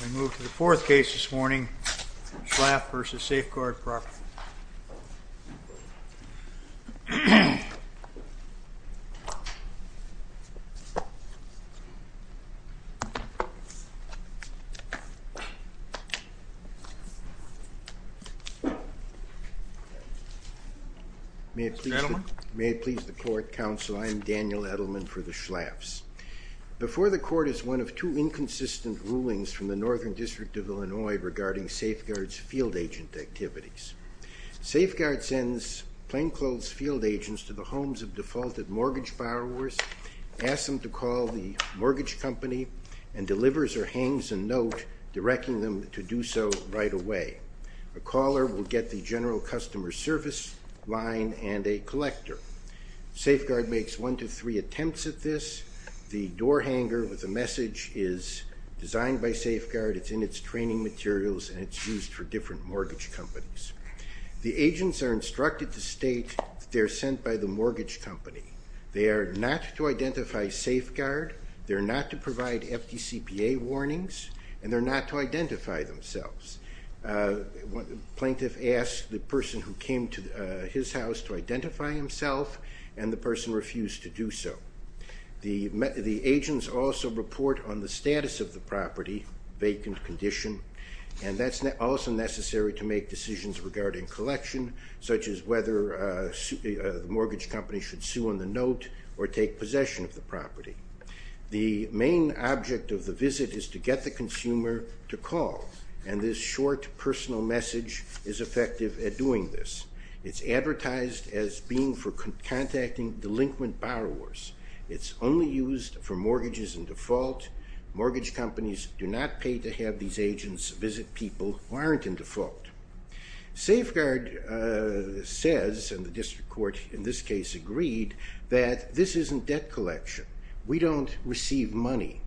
We move to the fourth case this morning, Schlaf v. Safeguard Property. May it please the Court, Counsel, I'm Daniel Edelman for the Schlafs. Before the Court is one of two inconsistent rulings from the Northern District of Illinois regarding Safeguard's field agent activities. Safeguard sends plainclothes field agents to the homes of defaulted mortgage borrowers, asks them to call the mortgage company, and delivers or hangs a note directing them to do so right away. A caller will get the general customer service line and a collector. Safeguard makes one to three attempts at this. The door hanger with a message is designed by Safeguard. It's in its training materials and it's used for different mortgage companies. The agents are instructed to state they're sent by the mortgage company. They are not to identify Safeguard, they're not to provide FDCPA warnings, and they're not to identify themselves. Plaintiff asks the person who came to his house to identify himself, and the person refused to do so. The agents also report on the status of the property, vacant condition, and that's also necessary to make decisions regarding collection, such as whether the mortgage company should sue on the note or take possession of the property. The main object of the visit is to get the consumer to call, and this short personal message is effective at doing this. It's advertised as being for contacting delinquent borrowers. It's only used for mortgages in default. Mortgage companies do not pay to have these agents visit people who aren't in default. Safeguard says, and the district court in this case agreed, that this isn't debt collection. We don't receive money,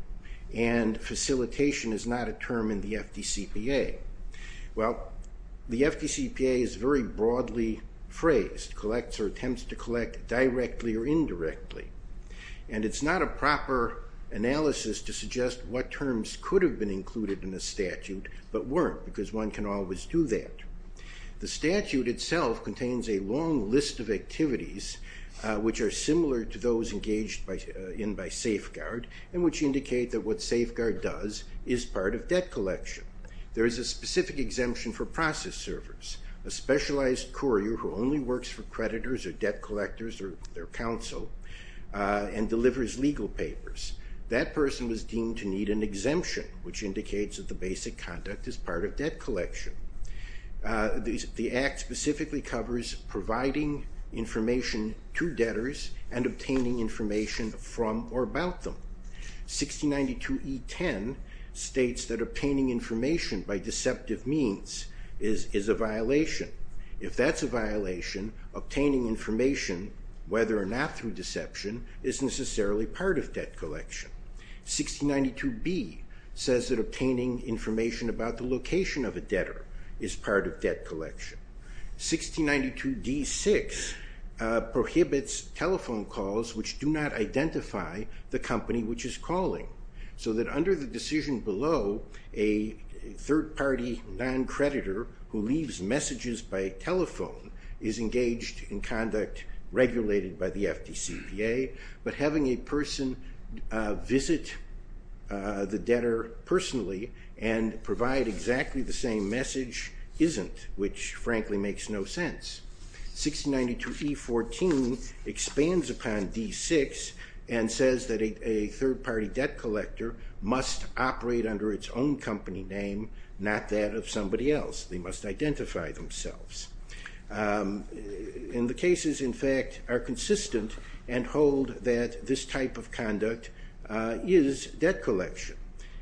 and facilitation is not a term in the FDCPA. Well, the FDCPA is very broadly phrased, collects or attempts to collect directly or indirectly, and it's not a proper analysis to suggest what terms could have been included in a statute but weren't, because one can always do that. The statute itself contains a long list of activities, which are similar to those engaged in by Safeguard, and which indicate that what Safeguard does is part of debt collection. There is a specific exemption for process servers, a specialized courier who only works for creditors or debt collectors or their counsel and delivers legal papers. That person was deemed to need an exemption, which indicates that the basic conduct is part of debt collection. The Act specifically covers providing information to debtors and obtaining information from or about them. 1692E10 states that obtaining information by deceptive means is a violation. If that's a violation, obtaining information, whether or not through deception, is necessarily part of debt collection. 1692B says that obtaining information about the location of a debtor is part of debt collection. 1692D6 prohibits telephone calls which do not identify the company which is calling, so that under the decision below, a third-party non-creditor who leaves messages by telephone is engaged in conduct regulated by the FDCPA, but having a person visit the debtor personally and provide exactly the same message isn't, which frankly makes no sense. 1692E14 expands upon D6 and says that a third-party debt collector must operate under its own company name, not that of somebody else. They must identify themselves. And the cases, in fact, are consistent and hold that this type of conduct is debt collection.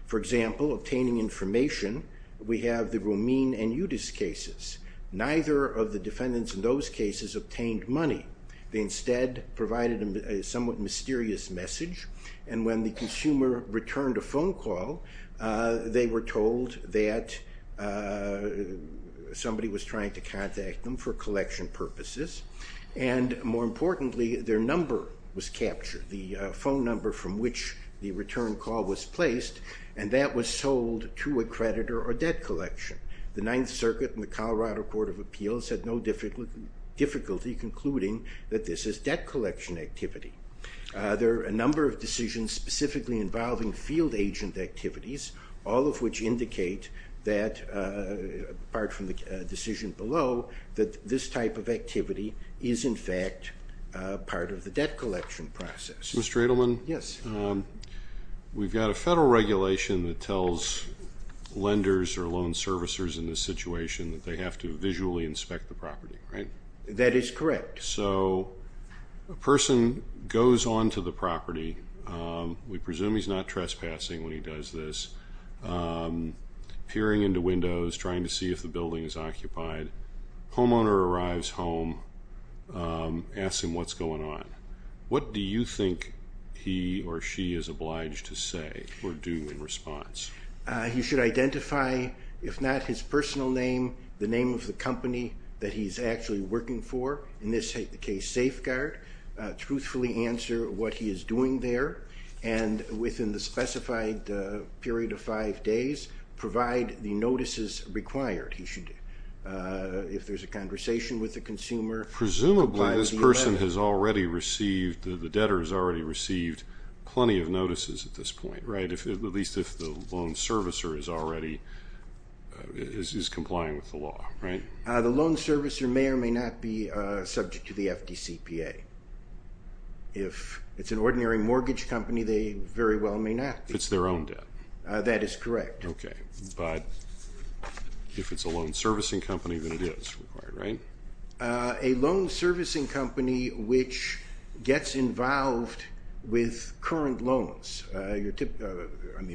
For example, obtaining information, we have the Romine and Yudis cases. Neither of the defendants in those cases obtained money. They instead provided a somewhat mysterious message, and when the consumer returned a phone call, they were told that somebody was trying to contact them for collection purposes, and more importantly, their number was captured. The phone number from which the return call was placed, and that was sold to a creditor or debt collection. The Ninth Circuit and the Colorado Court of Appeals had no difficulty concluding that this is debt collection activity. There are a number of decisions specifically involving field agent activities, all of which indicate that, apart from the decision below, that this type of activity is, in fact, part of the debt collection process. Mr. Edelman? Yes. We've got a federal regulation that tells lenders or loan servicers in this situation that they have to visually inspect the property, right? That is correct. So a person goes onto the property. We presume he's not trespassing when he does this. Peering into windows, trying to see if the building is occupied. Homeowner arrives home, asks him what's going on. What do you think he or she is obliged to say or do in response? He should identify, if not his personal name, the name of the company that he's actually working for. In this case, Safeguard. Truthfully answer what he is doing there, and within the specified period of five days, provide the notices required. He should, if there's a conversation with the consumer, comply with the 11th. Presumably this person has already received, the debtor has already received plenty of notices at this point, right? At least if the loan servicer is already complying with the law, right? The loan servicer may or may not be subject to the FDCPA. If it's an ordinary mortgage company, they very well may not. If it's their own debt. That is correct. Okay, but if it's a loan servicing company, then it is required, right? A loan servicing company which gets involved with current loans.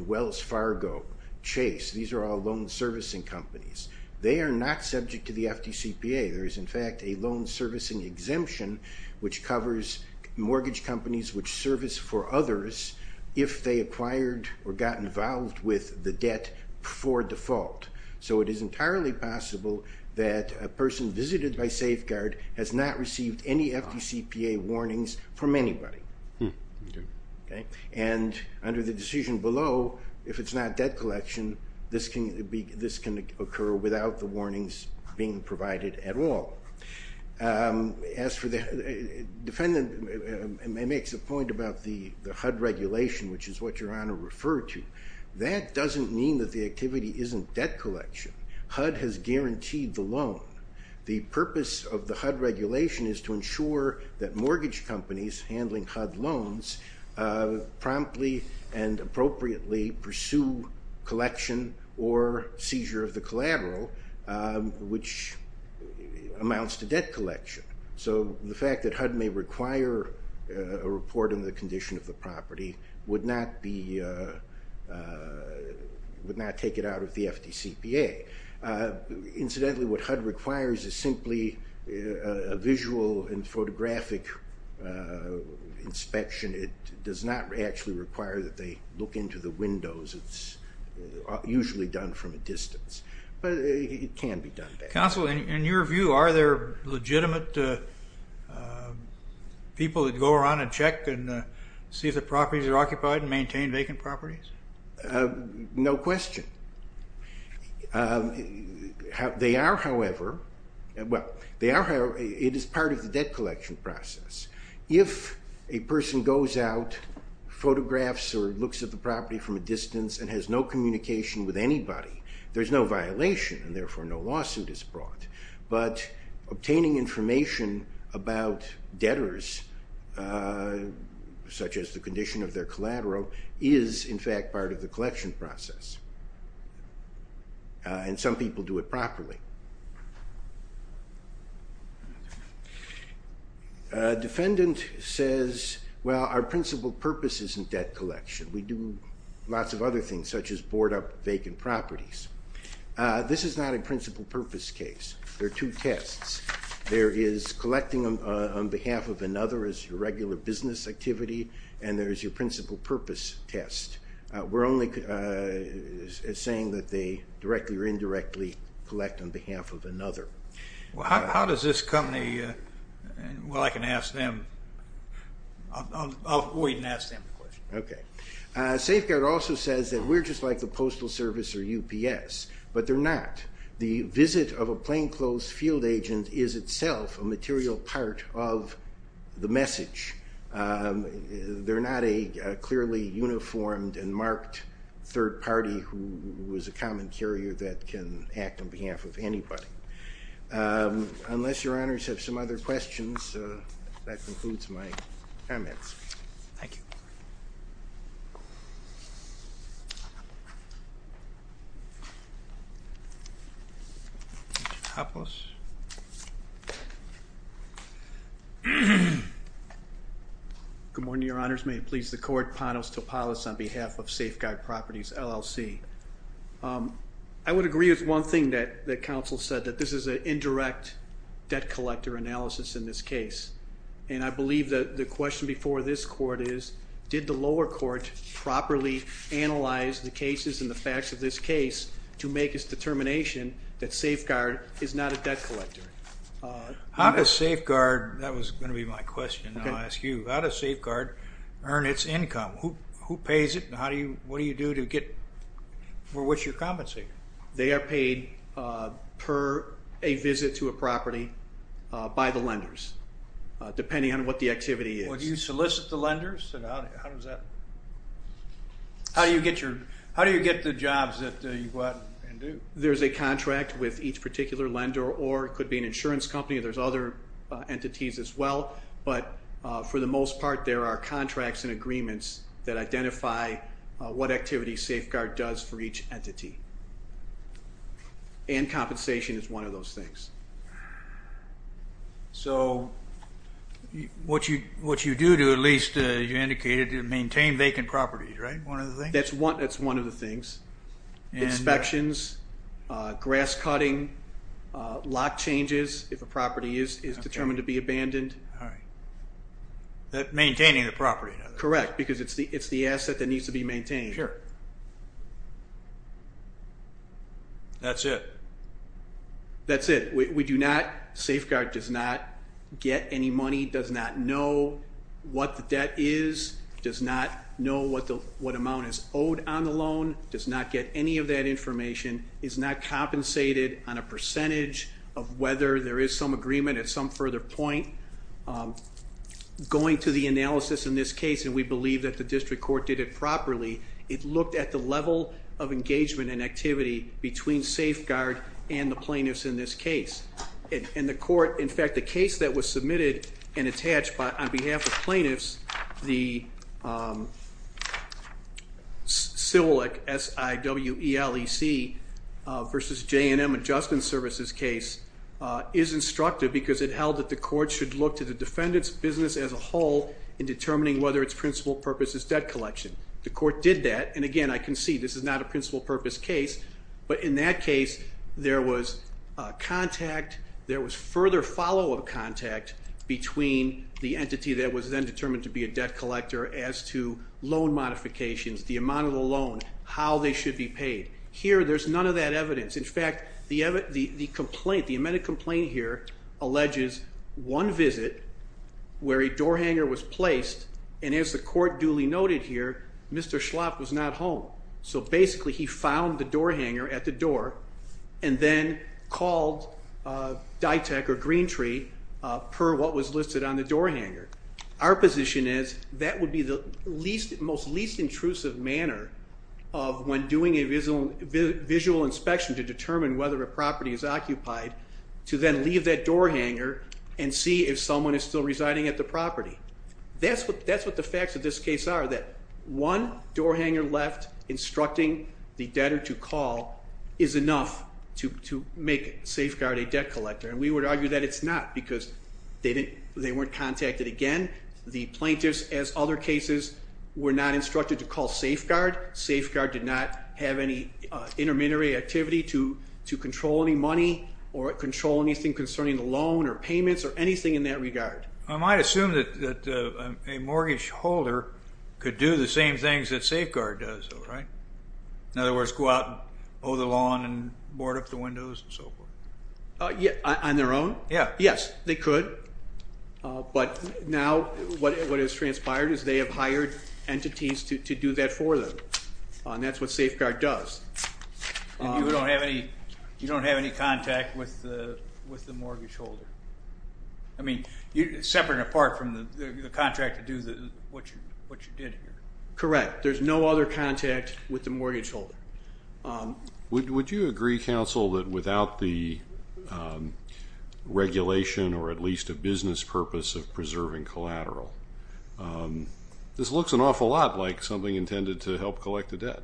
Wells Fargo, Chase, these are all loan servicing companies. They are not subject to the FDCPA. There is, in fact, a loan servicing exemption which covers mortgage companies which service for others if they acquired or got involved with the debt for default. So it is entirely possible that a person visited by Safeguard has not received any FDCPA warnings from anybody. And under the decision below, if it's not debt collection, this can occur without the warnings being provided at all. As for the defendant makes a point about the HUD regulation, which is what Your Honor referred to, that doesn't mean that the activity isn't debt collection. HUD has guaranteed the loan. The purpose of the HUD regulation is to ensure that mortgage companies handling HUD loans promptly and appropriately pursue collection or seizure of the collateral, which amounts to debt collection. So the fact that HUD may require a report on the condition of the property would not take it out of the FDCPA. Incidentally, what HUD requires is simply a visual and photographic inspection. It does not actually require that they look into the windows. It's usually done from a distance, but it can be done. Counsel, in your view, are there legitimate people that go around and check and see if the properties are occupied and maintain vacant properties? No question. They are, however, well, it is part of the debt collection process. If a person goes out, photographs or looks at the property from a distance and has no communication with anybody, there's no violation, and therefore no lawsuit is brought. But obtaining information about debtors, such as the condition of their collateral, is, in fact, part of the collection process. And some people do it properly. A defendant says, well, our principal purpose isn't debt collection. We do lots of other things, such as board up vacant properties. This is not a principal purpose case. There are two tests. There is collecting on behalf of another as your regular business activity, and there is your principal purpose test. We're only saying that they directly or indirectly collect on behalf of another. Well, how does this company, well, I can ask them. I'll wait and ask them the question. Okay. Safeguard also says that we're just like the Postal Service or UPS, but they're not. The visit of a plainclothes field agent is itself a material part of the message. They're not a clearly uniformed and marked third party who is a common carrier that can act on behalf of anybody. Unless your honors have some other questions, that concludes my comments. Thank you. Mr. Topolis. Good morning, your honors. May it please the court, Panos Topolis on behalf of Safeguard Properties, LLC. I would agree with one thing that counsel said, that this is an indirect debt collector analysis in this case. And I believe that the question before this court is, did the lower court properly analyze the cases and the facts of this case to make its determination that Safeguard is not a debt collector? How does Safeguard, that was going to be my question, I'll ask you. How does Safeguard earn its income? Who pays it and what do you do to get, or what's your compensator? They are paid per a visit to a property by the lenders, depending on what the activity is. Well, do you solicit the lenders? How do you get the jobs that you go out and do? There's a contract with each particular lender, or it could be an insurance company. There's other entities as well. But for the most part, there are contracts and agreements that identify what activity Safeguard does for each entity. And compensation is one of those things. So what you do to at least, you indicated, to maintain vacant properties, right? That's one of the things. Inspections, grass cutting, lock changes if a property is determined to be abandoned. Maintaining the property. Correct, because it's the asset that needs to be maintained. That's it? That's it. Safeguard does not get any money, does not know what the debt is, does not know what amount is owed on the loan, does not get any of that information, is not compensated on a percentage of whether there is some agreement at some further point. Going to the analysis in this case, and we believe that the district court did it properly, it looked at the level of engagement and activity between Safeguard and the plaintiffs in this case. And the court, in fact, the case that was submitted and attached on behalf of plaintiffs, the CIVLEC, S-I-W-E-L-E-C, versus J&M Adjustment Services case, is instructive because it held that the court should look to the defendant's business as a whole in determining whether its principal purpose is debt collection. The court did that, and again, I concede this is not a principal purpose case, but in that case there was contact, there was further follow-up contact, between the entity that was then determined to be a debt collector as to loan modifications, the amount of the loan, how they should be paid. Here, there's none of that evidence. In fact, the amended complaint here alleges one visit where a door hanger was placed, and as the court duly noted here, Mr. Schlapp was not home. So basically, he found the door hanger at the door and then called DITEC or Green Tree per what was listed on the door hanger. Our position is that would be the most least intrusive manner of when doing a visual inspection to determine whether a property is occupied to then leave that door hanger That's what the facts of this case are, that one door hanger left instructing the debtor to call is enough to make Safeguard a debt collector, and we would argue that it's not because they weren't contacted again. The plaintiffs, as other cases, were not instructed to call Safeguard. Safeguard did not have any intermittent activity to control any money or control anything concerning the loan or payments or anything in that regard. I might assume that a mortgage holder could do the same things that Safeguard does, right? In other words, go out and mow the lawn and board up the windows and so forth. On their own? Yes, they could. But now what has transpired is they have hired entities to do that for them, and that's what Safeguard does. You don't have any contact with the mortgage holder? I mean, separate and apart from the contract to do what you did here. Correct. There's no other contact with the mortgage holder. Would you agree, counsel, that without the regulation or at least a business purpose of preserving collateral, this looks an awful lot like something intended to help collect the debt?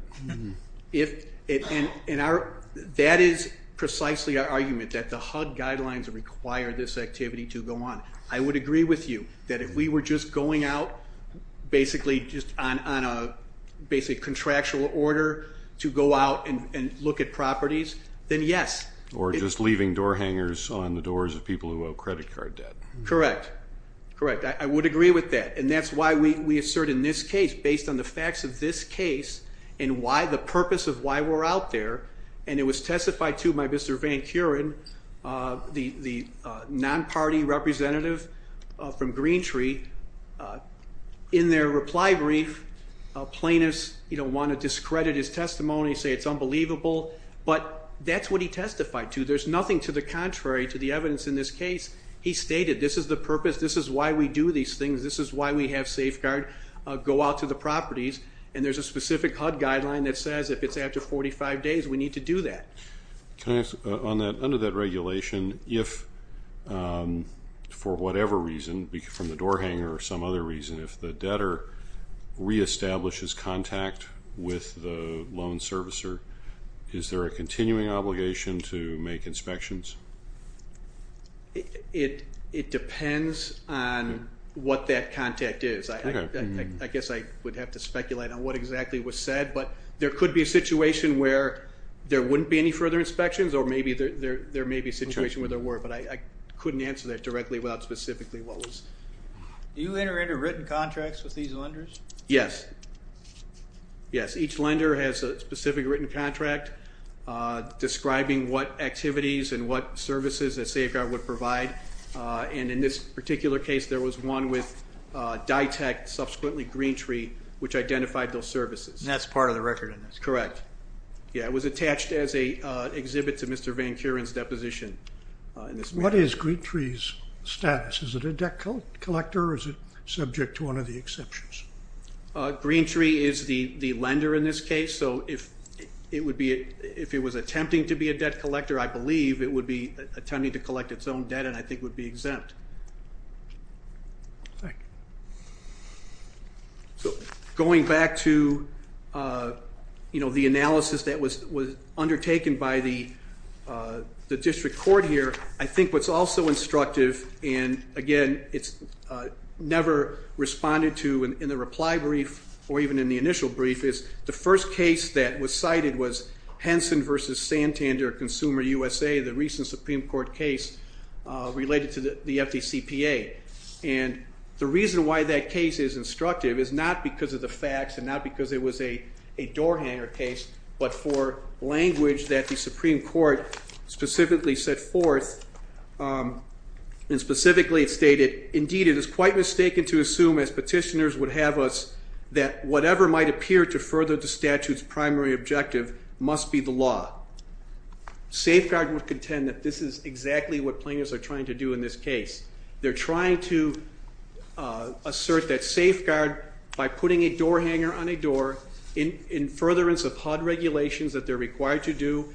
That is precisely our argument, that the HUD guidelines require this activity to go on. I would agree with you that if we were just going out basically on a contractual order to go out and look at properties, then yes. Or just leaving door hangers on the doors of people who owe credit card debt. Correct. I would agree with that, and that's why we assert in this case, and why the purpose of why we're out there, and it was testified to by Mr. Van Curen, the non-party representative from Green Tree. In their reply brief, plaintiffs want to discredit his testimony, say it's unbelievable, but that's what he testified to. There's nothing to the contrary to the evidence in this case. He stated this is the purpose, this is why we do these things, this is why we have Safeguard go out to the properties, and there's a specific HUD guideline that says if it's after 45 days, we need to do that. Under that regulation, if for whatever reason, from the door hanger or some other reason, if the debtor reestablishes contact with the loan servicer, is there a continuing obligation to make inspections? It depends on what that contact is. I guess I would have to speculate on what exactly was said, but there could be a situation where there wouldn't be any further inspections, or maybe there may be a situation where there were, but I couldn't answer that directly without specifically what was. Do you enter into written contracts with these lenders? Yes. Yes, each lender has a specific written contract describing what activities and what services that Safeguard would provide, and in this particular case, there was one with DITEC, subsequently GreenTree, which identified those services. And that's part of the record in this? Correct. Yeah, it was attached as an exhibit to Mr. Van Curen's deposition. What is GreenTree's status? Is it a debt collector, or is it subject to one of the exceptions? GreenTree is the lender in this case, so if it was attempting to be a debt collector, I believe it would be attempting to collect its own debt, and I think would be exempt. Thank you. So going back to the analysis that was undertaken by the district court here, I think what's also instructive, and, again, it's never responded to in the reply brief or even in the initial brief, is the first case that was cited was Henson v. Santander, Consumer USA, the recent Supreme Court case related to the FDCPA. And the reason why that case is instructive is not because of the facts and not because it was a door hanger case, but for language that the Supreme Court specifically set forth, and specifically it stated, Indeed, it is quite mistaken to assume, as petitioners would have us, that whatever might appear to further the statute's primary objective must be the law. Safeguard would contend that this is exactly what plaintiffs are trying to do in this case. They're trying to assert that safeguard by putting a door hanger on a door in furtherance of HUD regulations that they're required to do,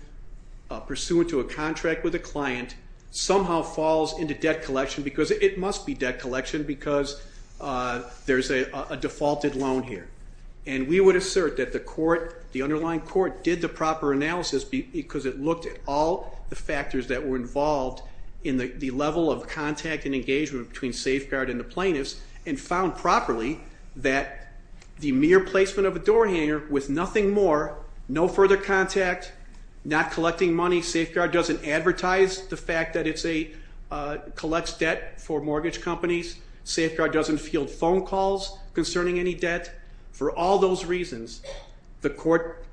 pursuant to a contract with a client, somehow falls into debt collection because it must be debt collection because there's a defaulted loan here. And we would assert that the court, the underlying court, did the proper analysis because it looked at all the factors that were involved in the level of contact and engagement between safeguard and the plaintiffs and found properly that the mere placement of a door hanger with nothing more, no further contact, not collecting money, Safeguard doesn't advertise the fact that it collects debt for mortgage companies. Safeguard doesn't field phone calls concerning any debt. For all those reasons, the court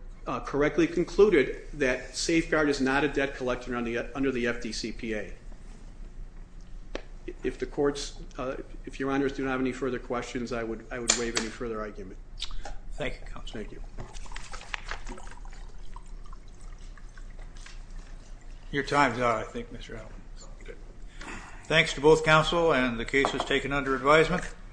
correctly concluded that safeguard is not a debt collector under the FDCPA. If the courts, if your honors do not have any further questions, I would waive any further argument. Thank you, counsel. Thank you. Your time's up, I think, Mr. Allen. Thanks to both counsel and the cases taken under advisement.